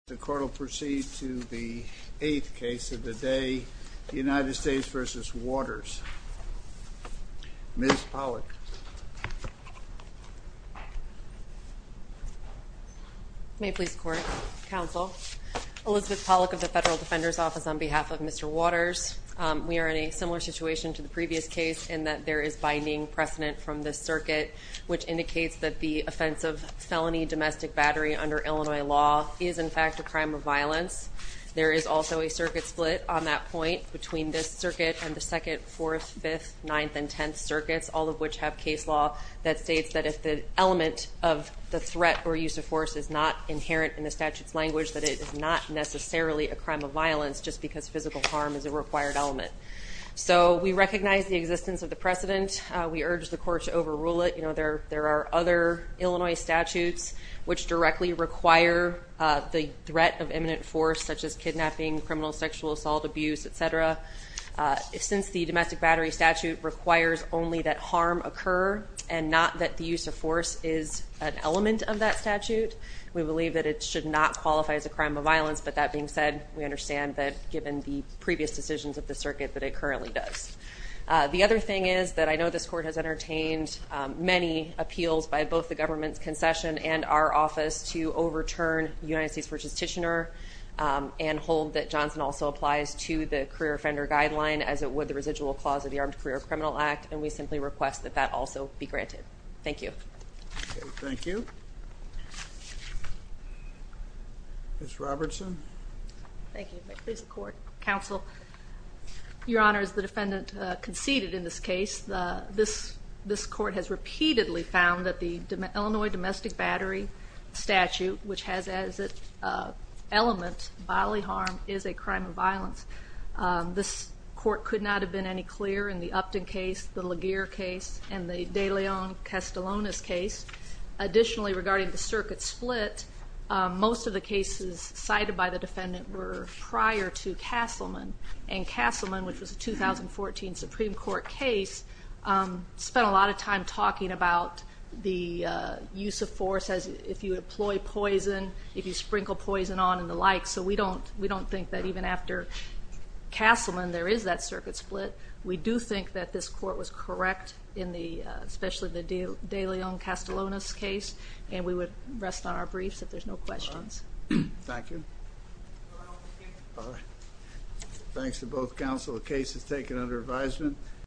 The court will proceed to the eighth case of the day, United States v. Waters. Ms. Pollack. May it please the court, counsel. Elizabeth Pollack of the Federal Defender's Office on behalf of Mr. Waters. We are in a similar situation to the previous case in that there is binding precedent from this circuit, which indicates that the offense of felony domestic battery under Illinois law is in fact a crime of violence. There is also a circuit split on that point between this circuit and the second, fourth, fifth, ninth and tenth circuits, all of which have case law that states that if the element of the threat or use of force is not inherent in the statute's language, that it is not necessarily a crime of violence just because physical harm is a required element. So we recognize the existence of the precedent. We urge the court to overrule it. You know, there are other Illinois statutes which directly require the threat of imminent force, such as kidnapping, criminal sexual assault, abuse, et cetera. Since the domestic battery statute requires only that harm occur and not that the use of force is an element of that statute, we believe that it should not qualify as a crime of violence. But that being said, we understand that given the previous decisions of the circuit that it currently does. The other thing is that I know this court has entertained many appeals by both the government's concession and our office to overturn United States v. Titchener and hold that Johnson also applies to the career offender guideline as it would the residual clause of the Armed Career Criminal Act, and we simply request that that also be granted. Thank you. Thank you. Ms. Robertson. Thank you. Counsel, Your Honor, as the defendant conceded in this case, this court has repeatedly found that the Illinois domestic battery statute, which has as its element bodily harm, is a crime of violence. This court could not have been any clearer in the Upton case, the Laguerre case, and the De Leon-Castellonis case. Additionally, regarding the circuit split, most of the cases cited by the defendant were prior to Castleman, and Castleman, which was a 2014 Supreme Court case, spent a lot of time talking about the use of force, if you employ poison, if you sprinkle poison on and the like. So we don't think that even after Castleman there is that circuit split. We do think that this court was correct, especially the De Leon-Castellonis case, and we would rest on our briefs if there's no questions. Thank you. Thanks to both counsel. The case is taken under advisement.